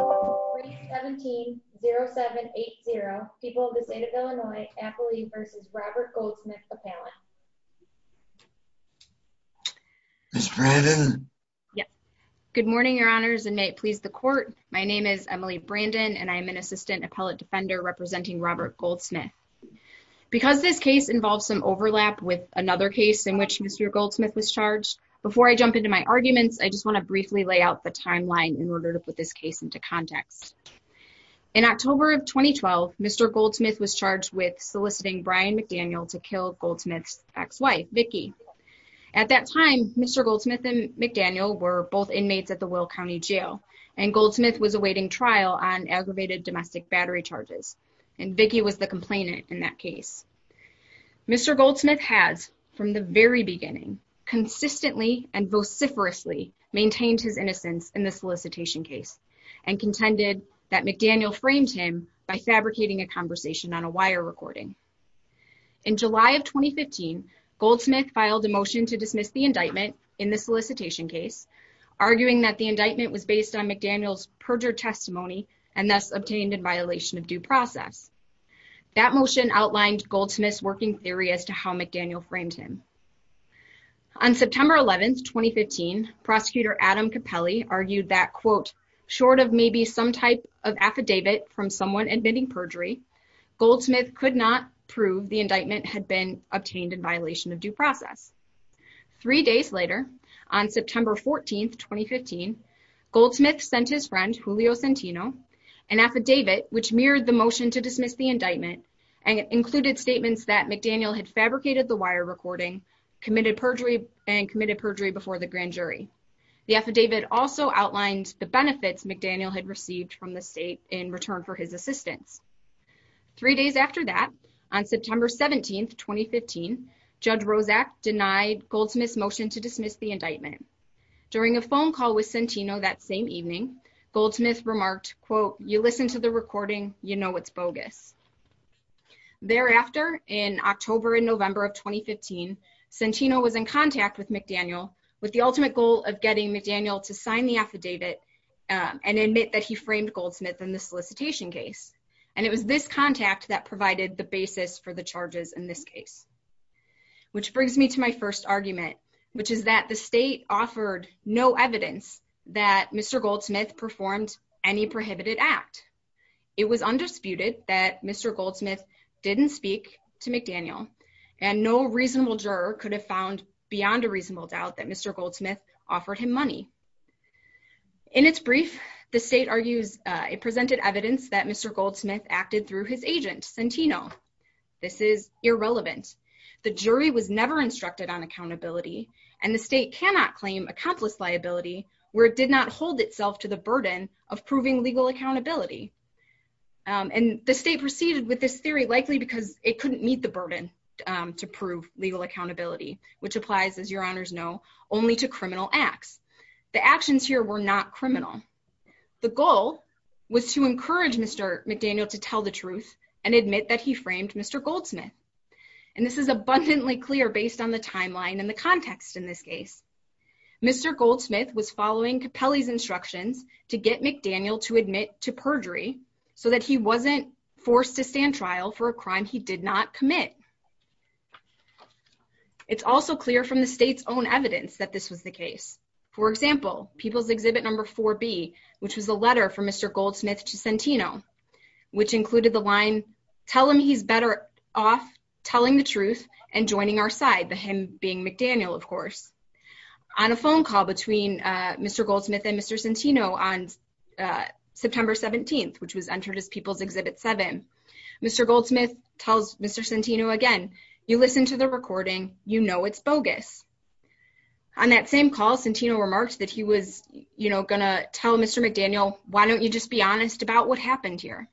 3-17-07-80 People of the State of Illinois, Appley v. Robert Goldsmith Appellant. Ms. Brandon? Yes. Good morning, your honors, and may it please the court. My name is Emily Brandon and I am an assistant appellate defender representing Robert Goldsmith. Because this case involves some overlap with another case in which Mr. Goldsmith was charged, before I jump into my arguments, I just want to briefly lay out the timeline in order to put this case into context. In October of 2012, Mr. Goldsmith was charged with soliciting Brian McDaniel to kill Goldsmith's ex-wife, Vicki. At that time, Mr. Goldsmith and McDaniel were both inmates at the Will County Jail, and Goldsmith was awaiting trial on aggravated domestic battery charges, and Vicki was the complainant in that case. Mr. Goldsmith has, from the very beginning, consistently and vociferously maintained his innocence in the solicitation case, and contended that McDaniel framed him by fabricating a conversation on a wire recording. In July of 2015, Goldsmith filed a motion to dismiss the indictment in the solicitation case, arguing that the indictment was based on McDaniel's perjured testimony and thus obtained in violation of due process. That motion outlined Goldsmith's working theory as to how McDaniel framed him. On September 11, 2015, Prosecutor Adam Capelli argued that, quote, short of maybe some type of affidavit from someone admitting perjury, Goldsmith could not prove the indictment had been obtained in violation of due process. Three days later, on September 14, 2015, Goldsmith sent his friend, Julio Centino, an affidavit which mirrored the motion to dismiss the indictment and included statements that McDaniel had fabricated the wire recording, committed perjury, and committed perjury before the grand jury. The affidavit also outlined the benefits McDaniel had received from the state in return for his assistance. Three days after that, on September 17, 2015, Judge Rozak denied Goldsmith's motion to dismiss the indictment. During a phone call with Centino that same evening, Goldsmith remarked, quote, you listen to the recording, you know it's bogus. Thereafter, in October and November of 2015, Centino was in contact with McDaniel with the ultimate goal of getting McDaniel to sign the affidavit and admit that he framed Goldsmith in the solicitation case. And it was this contact that provided the basis for the charges in this case. Which brings me to my first argument, which is that the state offered no evidence that Mr. Goldsmith didn't speak to McDaniel, and no reasonable juror could have found beyond a reasonable doubt that Mr. Goldsmith offered him money. In its brief, the state argues it presented evidence that Mr. Goldsmith acted through his agent, Centino. This is irrelevant. The jury was never instructed on accountability, and the state cannot claim accomplice liability where it did hold itself to the burden of proving legal accountability. And the state proceeded with this theory likely because it couldn't meet the burden to prove legal accountability, which applies, as your honors know, only to criminal acts. The actions here were not criminal. The goal was to encourage Mr. McDaniel to tell the truth and admit that he framed Mr. Goldsmith. And this is abundantly clear based on the timeline and the context in this case. Mr. Goldsmith was following Capelli's instructions to get McDaniel to admit to perjury so that he wasn't forced to stand trial for a crime he did not commit. It's also clear from the state's own evidence that this was the case. For example, People's Exhibit No. 4B, which was the letter from Mr. Goldsmith to Centino, which included the line, tell him he's better off telling the truth and joining our side, him being McDaniel, of course. On a phone call between Mr. Goldsmith and Mr. Centino on September 17th, which was entered as People's Exhibit 7, Mr. Goldsmith tells Mr. Centino again, you listen to the recording, you know it's bogus. On that same call, Centino remarked that he was, you know, going to tell Mr. McDaniel, why don't you just be honest about what happened here?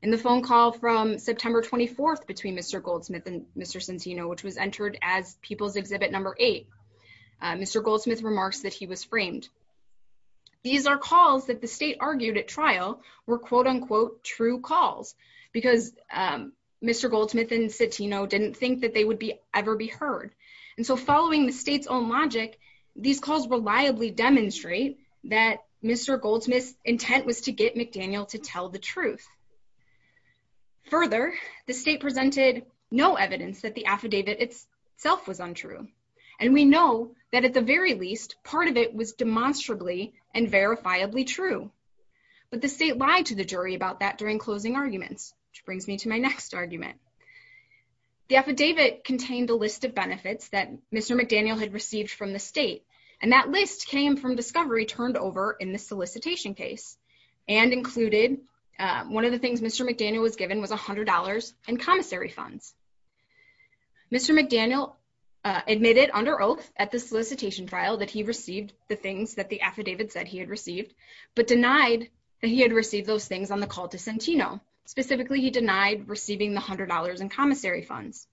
In the phone call from September 24th between Mr. Goldsmith and Mr. Centino, which was entered as People's Exhibit No. 8, Mr. Goldsmith remarks that he was framed. These are calls that the state argued at trial were quote-unquote true calls, because Mr. Goldsmith and Centino didn't think that they would be ever be heard. And so following the state's own logic, these calls reliably demonstrate that Mr. Goldsmith's intent was to get McDaniel to tell the truth. Further, the state presented no evidence that the affidavit itself was untrue, and we know that at the very least, part of it was demonstrably and verifiably true. But the state lied to the jury about that during closing arguments, which brings me to my next argument. The affidavit contained a list of benefits that Mr. McDaniel had received from the state, and that list came from discovery turned over in the solicitation case, and included one of the things Mr. McDaniel was given was $100 in commissary funds. Mr. McDaniel admitted under oath at the solicitation trial that he received the things that the affidavit said he had received, but denied that he had received those things on the call to Centino. Specifically, he denied receiving the $100 in commissary funds.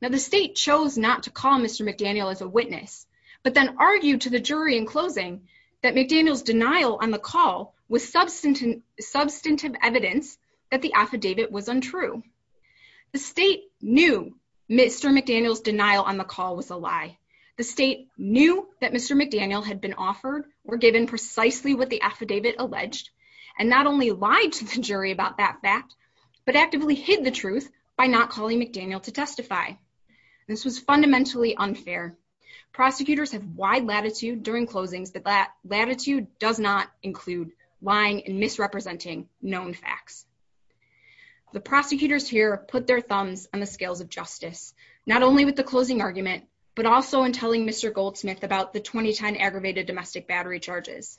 Now, the state chose not to Mr. McDaniel as a witness, but then argued to the jury in closing that McDaniel's denial on the call was substantive evidence that the affidavit was untrue. The state knew Mr. McDaniel's denial on the call was a lie. The state knew that Mr. McDaniel had been offered or given precisely what the affidavit alleged, and not only lied to the jury about that fact, but actively hid the to testify. This was fundamentally unfair. Prosecutors have wide latitude during closings that that latitude does not include lying and misrepresenting known facts. The prosecutors here put their thumbs on the scales of justice, not only with the closing argument, but also in telling Mr. Goldsmith about the 2010 aggravated domestic battery charges.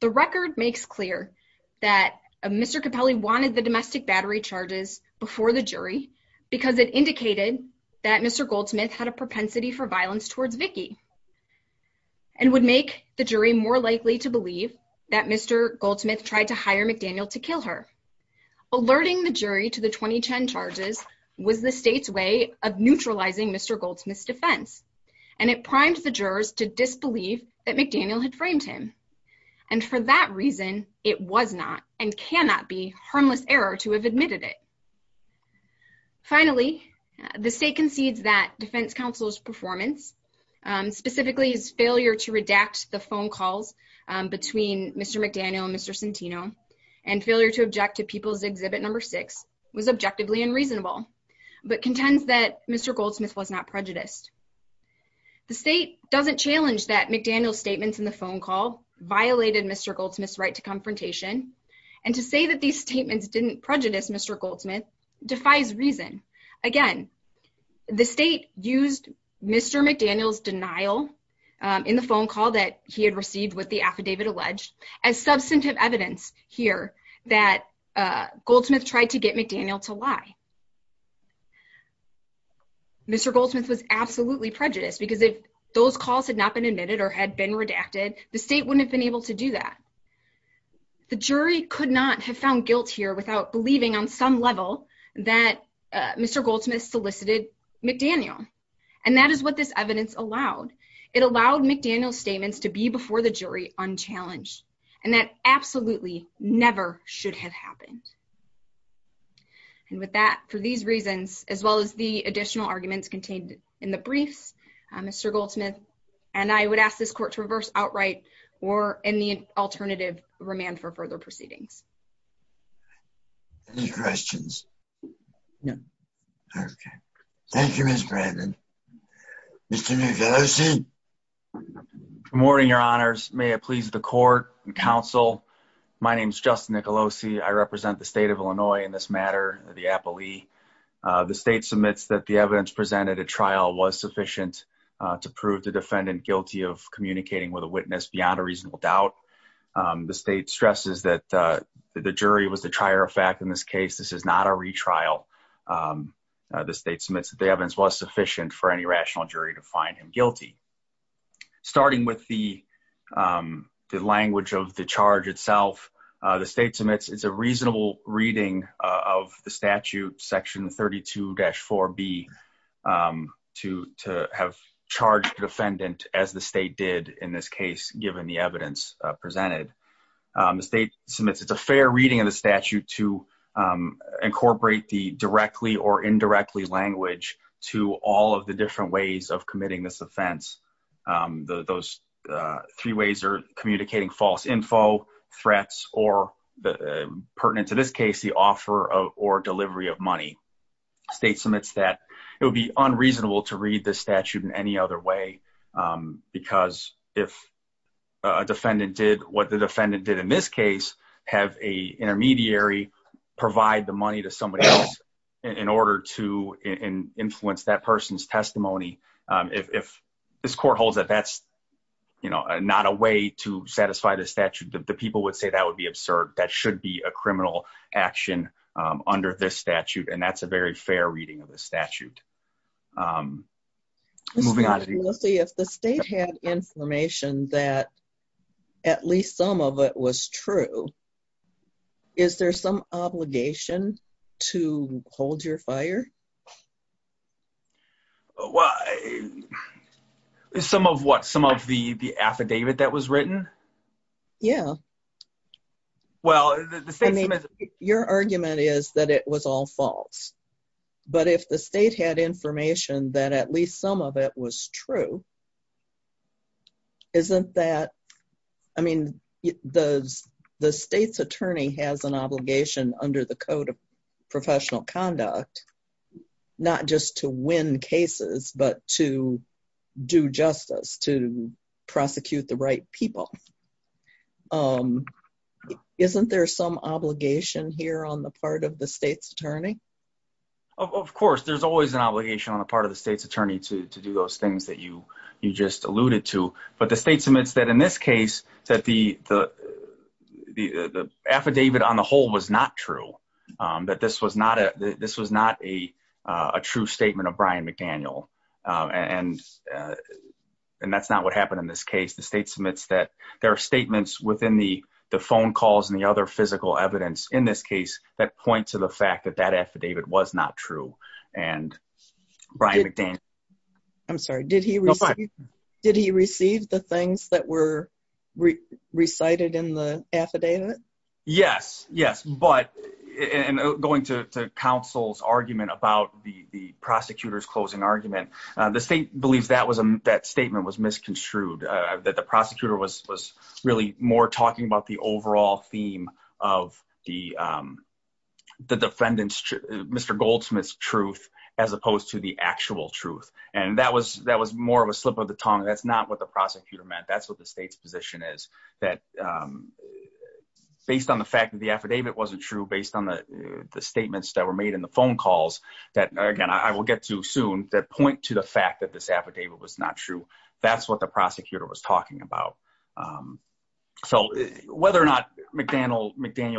The record makes clear that Mr. Capelli wanted the domestic battery charges before the jury because it indicated that Mr. Goldsmith had a propensity for violence towards Vicki, and would make the jury more likely to believe that Mr. Goldsmith tried to hire McDaniel to kill her. Alerting the jury to the 2010 charges was the state's way of neutralizing Mr. Goldsmith's defense, and it primed the jurors to disbelieve that McDaniel had framed him. And for that reason, it was not and cannot be harmless error to have admitted it. Finally, the state concedes that defense counsel's performance, specifically his failure to redact the phone calls between Mr. McDaniel and Mr. Centino, and failure to object to People's Exhibit No. 6 was objectively unreasonable, but contends that Mr. Goldsmith was not prejudiced. The state doesn't challenge that McDaniel's statements in the phone call violated Mr. Goldsmith's right to confrontation, and to say that these statements didn't prejudice Mr. Goldsmith defies reason. Again, the state used Mr. McDaniel's denial in the phone call that he had received with the affidavit alleged as substantive evidence here that Goldsmith tried to get McDaniel to lie. Mr. Goldsmith was absolutely prejudiced because if those calls had not been admitted or had been redacted, the state wouldn't have been able to do that. The jury could not have found guilt here without believing on some level that Mr. Goldsmith solicited McDaniel, and that is what this evidence allowed. It allowed McDaniel's statements to be before the jury unchallenged, and that absolutely never should have happened. And with that, for these reasons, as well as the additional arguments contained in the briefs, Mr. Goldsmith and I would ask this court to reverse outright or in the alternative, remand for further proceedings. Any questions? No. Okay. Thank you, Brandon. Mr. Nicolosi. Good morning, your honors. May it please the court and counsel. My name is Justin Nicolosi. I represent the state of Illinois in this matter, the appellee. The state submits that the evidence presented at trial was sufficient to prove the defendant guilty of communicating with a witness beyond a reasonable doubt. The state stresses that the jury was the trier of fact in this case. This is not a retrial. The state submits that the evidence was sufficient for any rational jury to find him guilty. Starting with the language of the charge itself, the state submits it's a reasonable reading of the statute, section 32-4B, to have charged the defendant as the state did in this case, given the evidence presented. The state submits it's a fair reading of the statute to incorporate the directly or indirectly language to all of the different ways of committing this offense. Those three ways are communicating false info, threats, or pertinent to this case, the offer or delivery of money. The state submits that it would be unreasonable to read the statute in any other way, because if a defendant did what the defendant did in this case, have a intermediary provide the money to somebody else in order to influence that person's testimony, if this court holds that that's not a way to satisfy the statute, the people would say that would be absurd. That should be a criminal action under this statute, and that's a very fair reading of the statute. Moving on. We'll see if the state had information that at least some of it was true, is there some obligation to hold your fire? Well, some of what? Some of the the affidavit that was written? Yeah. Well, your argument is that it was all false, but if the state had information that at least some of it was true, isn't that, I mean, the state's attorney has an obligation under the code of professional conduct, not just to win cases, but to do justice, to prosecute the right people. Isn't there some obligation here on the part of the state's attorney? Of course, there's always an obligation on the part of the state's attorney to do those things that you just alluded to, but the state submits that in this case, that the affidavit on the whole was not true, that this was not a true statement of Brian McDaniel, and that's not what happened in this case. The state submits that there are statements within the phone calls and the other and Brian McDaniel. I'm sorry, did he receive the things that were recited in the affidavit? Yes, yes, but going to counsel's argument about the prosecutor's closing argument, the state believes that statement was misconstrued, that the prosecutor was really more talking about the overall theme of the defendant's truth, Mr. Goldsmith's truth, as opposed to the actual truth, and that was more of a slip of the tongue. That's not what the prosecutor meant. That's what the state's position is, that based on the fact that the affidavit wasn't true, based on the statements that were made in the phone calls, that again, I will get to soon, that point to the fact that this affidavit was not true, that's what the prosecutor was talking about. So whether or not McDaniel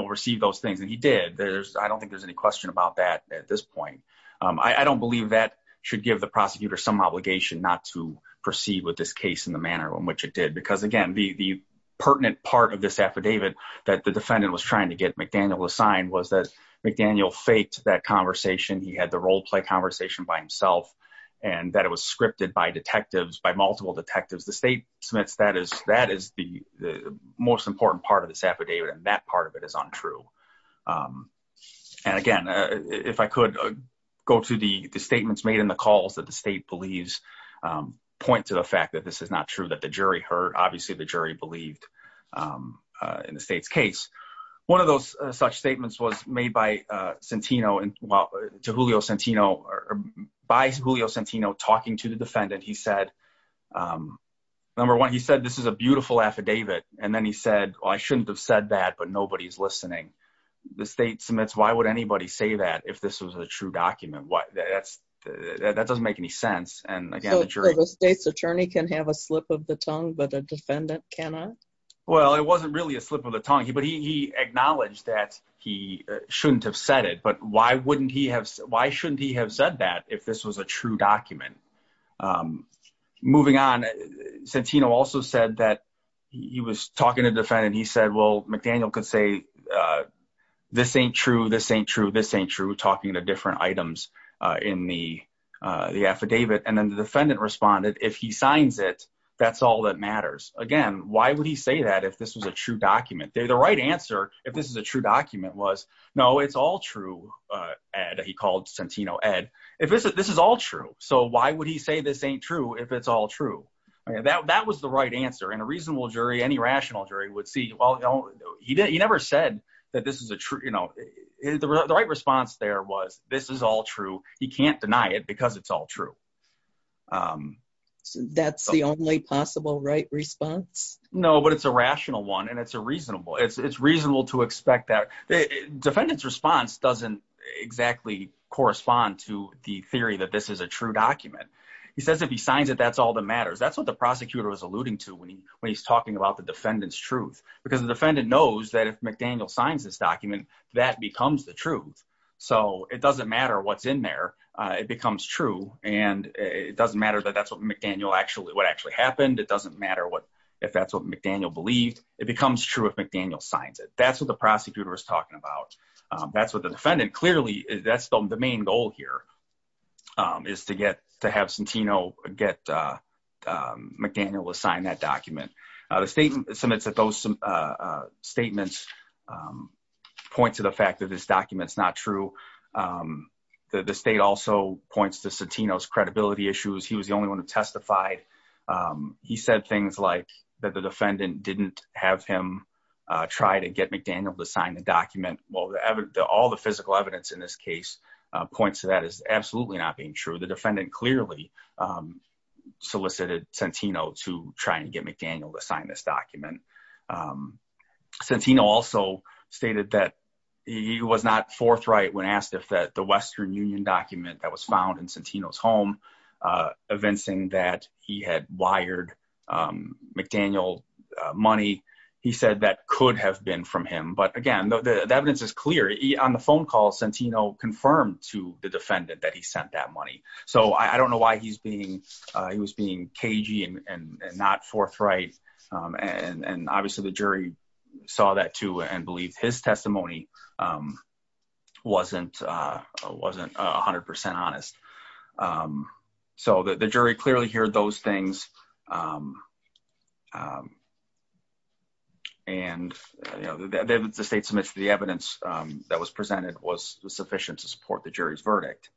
received those things, and he did, I don't think there's any question about that at this point. I don't believe that should give the prosecutor some obligation not to proceed with this case in the manner in which it did, because again, the pertinent part of this affidavit that the defendant was trying to get McDaniel assigned was that McDaniel faked that conversation. He had the role play conversation by himself, and that it was scripted by detectives, by multiple detectives. The state submits that as the most important part of this affidavit, and that part of it is untrue. And again, if I could go to the statements made in the calls that the state believes, point to the fact that this is not true, that the jury heard, obviously the jury believed in the state's case. One of those such statements was made to Julio Centino, by Julio Centino talking to the defendant. He said, number one, he said, this is a beautiful affidavit. And then he said, well, I shouldn't have said that, but nobody's listening. The state submits, why would anybody say that if this was a true document? That doesn't make any sense. And again, the jury- So the state's attorney can have a slip of the tongue, but the defendant cannot? Well, it wasn't really a slip of the tongue, but he acknowledged that he shouldn't have said it, but why shouldn't he have said that if this was a true document? Moving on, Centino also said that he was talking to the defendant. He said, well, McDaniel could say, this ain't true, this ain't true, this ain't true, talking to different items in the affidavit. And then the defendant responded, if he signs it, that's all that matters. Again, why would he say that if this was a true document? The right answer, if this is a true document was, no, it's all true, Ed, he called Centino Ed. This is all true. So why would he say this ain't true if it's all true? That was the right answer. And a reasonable jury, any rational jury would see, he never said that this is a true- The right response there was, this is all true. He can't say, this is all true. That's the only possible right response? No, but it's a rational one. And it's a reasonable, it's reasonable to expect that. The defendant's response doesn't exactly correspond to the theory that this is a true document. He says, if he signs it, that's all that matters. That's what the prosecutor was alluding to when he's talking about the defendant's truth, because the defendant knows that if McDaniel signs this document, that becomes the truth. So it doesn't matter what's in there. It becomes true. And it doesn't matter that that's what McDaniel actually, what actually happened. It doesn't matter what, if that's what McDaniel believed, it becomes true if McDaniel signs it. That's what the prosecutor was talking about. That's what the defendant clearly, that's the main goal here, is to get, to have Centino get McDaniel to sign that document. The state, some of those statements point to the fact that this is true. The state also points to Centino's credibility issues. He was the only one who testified. He said things like that the defendant didn't have him try to get McDaniel to sign the document. Well, all the physical evidence in this case points to that as absolutely not being true. The defendant clearly solicited Centino to try and get McDaniel to sign this document. Centino also stated that he was not forthright when asked if that the Western Union document that was found in Centino's home, evincing that he had wired McDaniel money, he said that could have been from him. But again, the evidence is clear. On the phone call, Centino confirmed to the defendant that he sent that money. So I don't know why he's being, he was being cagey and not forthright. And obviously the jury saw that too and believed his testimony wasn't 100% honest. So the jury clearly heard those things. And the state submitted the evidence that was presented was sufficient to support the jury's verdict.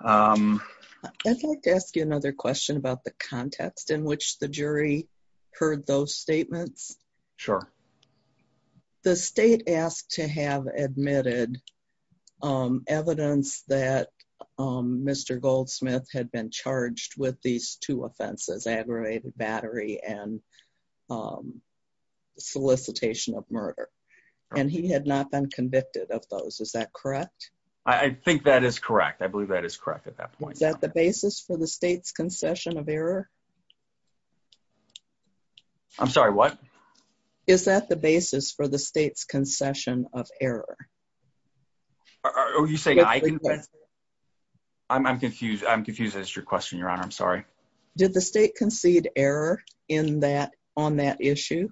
I'd like to ask you another question about the jury heard those statements. Sure. The state asked to have admitted evidence that Mr. Goldsmith had been charged with these two offenses aggravated battery and solicitation of murder. And he had not been convicted of those. Is that correct? I think that is correct. I believe that is correct. I'm sorry. What is that the basis for the state's concession of error? Are you saying I can, I'm confused. I'm confused. That's your question, your honor. I'm sorry. Did the state concede error in that on that issue?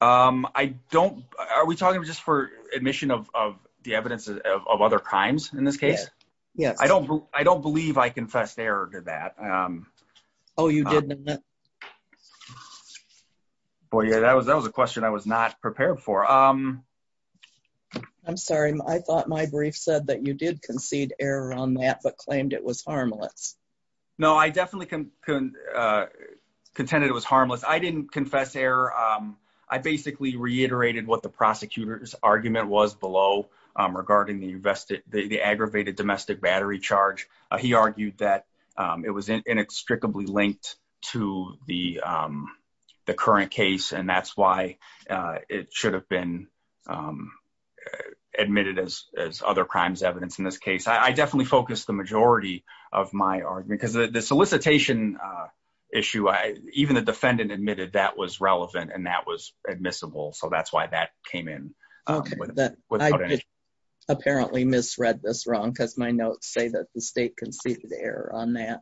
Um, I don't, are we talking just for admission of, of the evidence of other crimes in this case? Yes. I don't, I don't believe I confessed error to that. Um, oh, you did. Boy, yeah, that was, that was a question I was not prepared for. Um, I'm sorry. I thought my brief said that you did concede error on that, but claimed it was harmless. No, I definitely can, uh, contended it was harmless. I didn't confess error. Um, I basically reiterated what the prosecutor's argument was below, um, regarding the invested, the, the aggravated domestic battery charge. Uh, he argued that, um, it was inextricably linked to the, um, the current case. And that's why, uh, it should have been, um, uh, admitted as, as other crimes evidence in this case, I definitely focused the majority of my argument because the, the solicitation, uh, issue, I, even the defendant admitted that was relevant and that was admissible. So that's why that came in. Okay. Apparently misread this wrong. Cause my notes say that the state conceded error on that.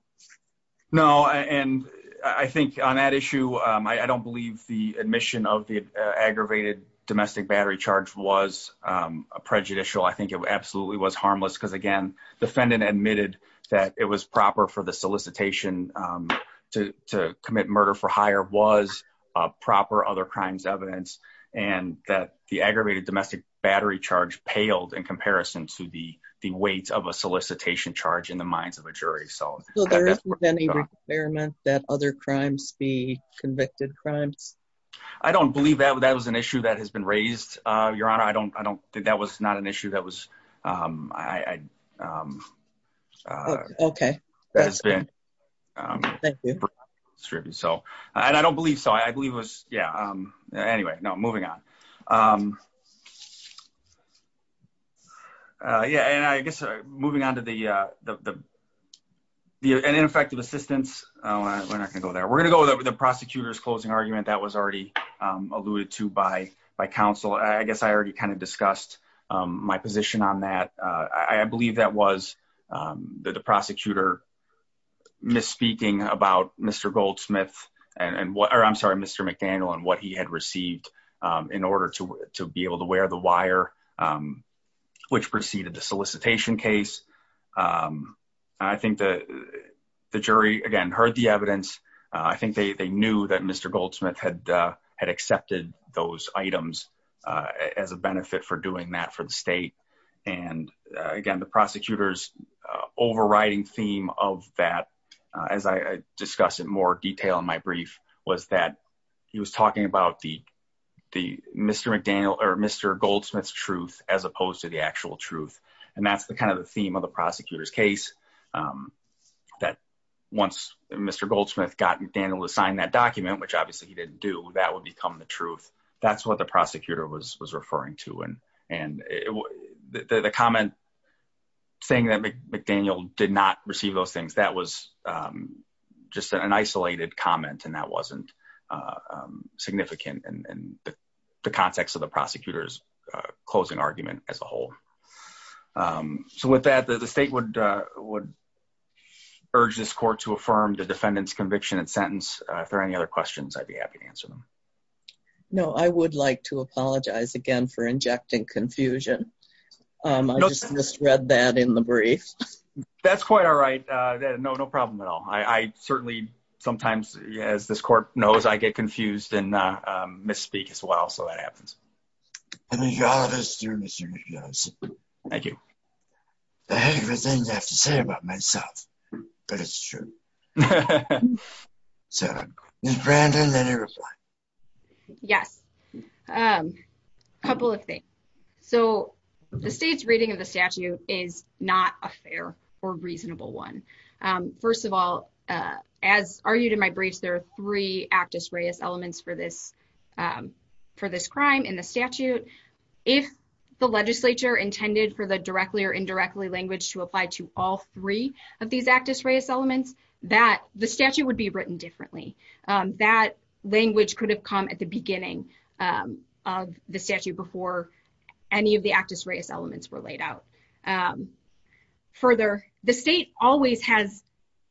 No. And I think on that issue, um, I don't believe the admission of the aggravated domestic battery charge was, um, prejudicial. I think it absolutely was harmless because again, defendant admitted that it was proper for the solicitation, um, to, to commit murder for hire was a proper other evidence. And that the aggravated domestic battery charge paled in comparison to the, the weight of a solicitation charge in the minds of a jury. So that other crimes be convicted crimes. I don't believe that that was an issue that has been raised. Uh, your honor. I don't, I don't think that was not an issue that was, um, I, um, uh, okay. That's been, um, thank you. So, and I don't believe so. I believe it was, yeah. Um, anyway, no moving on. Um, uh, yeah. And I guess, uh, moving on to the, uh, the, the, the ineffective assistance, uh, when I can go there, we're going to go with the prosecutor's closing argument that was already, um, alluded to by, by council. I guess I already kind of discussed, um, my position on that. Uh, I believe that was, um, that the prosecutor misspeaking about Mr. Goldsmith and what, or I'm sorry, Mr. McDaniel and what he had received, um, in order to, to be able to wear the wire, um, which preceded the solicitation case. Um, I think the, the jury again, heard the evidence. Uh, I think they, they knew that Mr. Goldsmith had, uh, had accepted those items, uh, as a benefit for doing that for the state. And, uh, again, the prosecutor's, uh, overriding theme of that, uh, as I discussed in more detail in my brief was that he was talking about the, the Mr. McDaniel or Mr. Goldsmith's truth, as opposed to the actual truth. And that's the kind of the theme of the prosecutor's case. Um, that once Mr. Goldsmith gotten Daniel to sign that document, which obviously he didn't do, that would become the truth. That's what the prosecutor was, was referring to. And, and the, the, the comment saying that McDaniel did not receive those things that was, um, just an isolated comment and that wasn't, uh, um, significant and the context of the prosecutor's, uh, closing argument as a whole. Um, so with that, the state would, uh, would urge this court to affirm the defendant's conviction and sentence. Uh, if there are any other questions, I'd be happy to answer them. No, I would like to apologize again for injecting confusion. Um, I just misread that in the brief. That's quite all right. Uh, no, no problem at all. I, I certainly sometimes as this court knows, I get confused and, uh, um, misspeak as well. So that happens. I mean, you're all of us through Mr. McDaniel. Thank you. I have to say about myself, but it's true. So is Brandon. Yes. Um, a couple of things. So the state's reading of the statute is not a fair or reasonable one. Um, first of all, uh, as argued in my briefs, there are three actus reus elements for this, um, for this crime in the all three of these actus reus elements that the statute would be written differently. Um, that language could have come at the beginning, um, of the statute before any of the actus reus elements were laid out. Um, further, the state always has,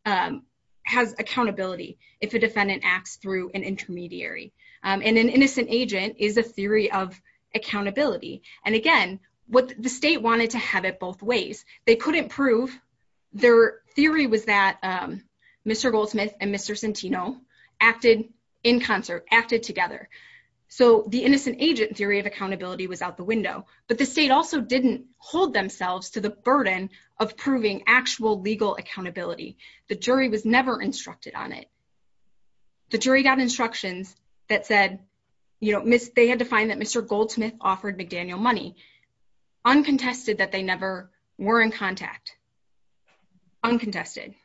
um, has accountability. If a defendant acts through an intermediary, um, and an innocent agent is a theory of accountability. And again, what the state wanted to have it both ways, they couldn't prove their theory was that, um, Mr. Goldsmith and Mr. Centino acted in concert, acted together. So the innocent agent theory of accountability was out the window, but the state also didn't hold themselves to the burden of proving actual legal accountability. The jury was never instructed on it. The jury got instructions that said, you know, miss, they had to find that Mr. Goldsmith offered McDaniel money uncontested that they never were in contact uncontested.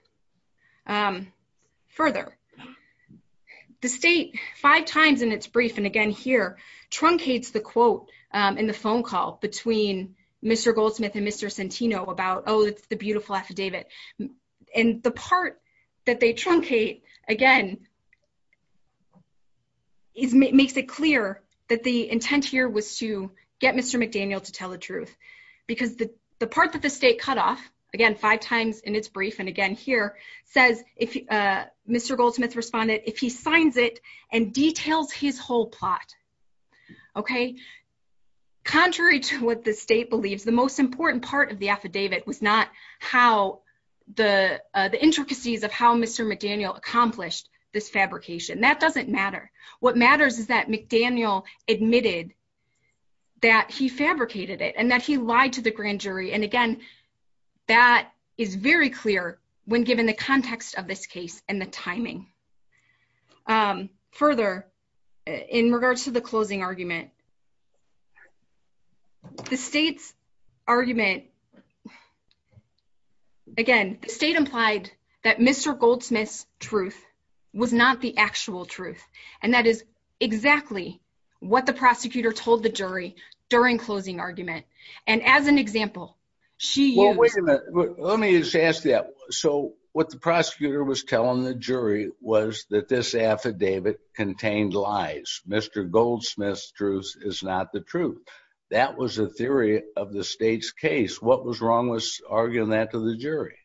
Um, further the state five times in its brief. And again, here truncates the quote, um, in the phone call between Mr. Goldsmith and Mr. Centino about, Oh, it's the beautiful affidavit. And the part that they again, it makes it clear that the intent here was to get Mr. McDaniel to tell the truth because the, the part that the state cut off again, five times in its brief. And again, here says if, uh, Mr. Goldsmith responded, if he signs it and details his whole plot, okay. Contrary to what the state believes the most important part of the affidavit was not how the, uh, the intricacies of how Mr. McDaniel accomplished this fabrication. That doesn't matter. What matters is that McDaniel admitted that he fabricated it and that he lied to the grand jury. And again, that is very clear when given the context of this case and the timing, um, further in regards to the closing argument, the state's argument, again, the state implied that Mr. Goldsmith's truth was not the actual truth. And that is exactly what the prosecutor told the jury during closing argument. And as an example, she used, let me just ask that. So what the prosecutor was telling the jury was that this is not the truth. That was the theory of the state's case. What was wrong with arguing that to the jury?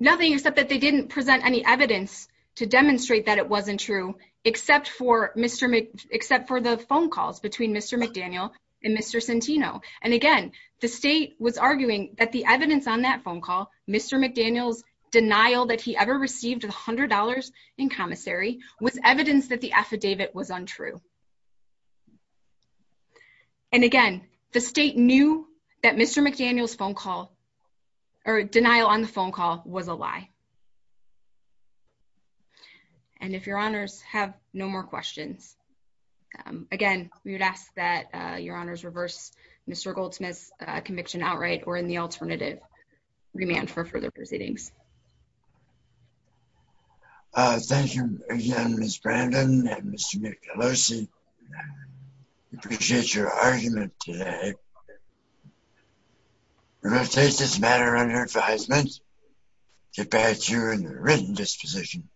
Nothing except that they didn't present any evidence to demonstrate that it wasn't true except for Mr. Mc, except for the phone calls between Mr. McDaniel and Mr. Centino. And again, the state was arguing that the evidence on that phone call, Mr. McDaniel's denial that he ever received a hundred dollars in commissary was evidence that the affidavit was untrue. And again, the state knew that Mr. McDaniel's phone call or denial on the phone call was a lie. And if your honors have no more questions, um, again, we would ask that, uh, your honors reverse Mr. Goldsmith's conviction outright or in the alternative remand for further proceedings. Uh, thank you again, Ms. Brandon and Mr. Michelosi. I appreciate your argument today. We will take this matter under advisement, get back to you in the written disposition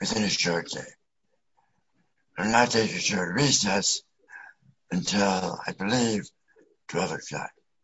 within a short day. I'm not taking short recess until I believe 12 o'clock.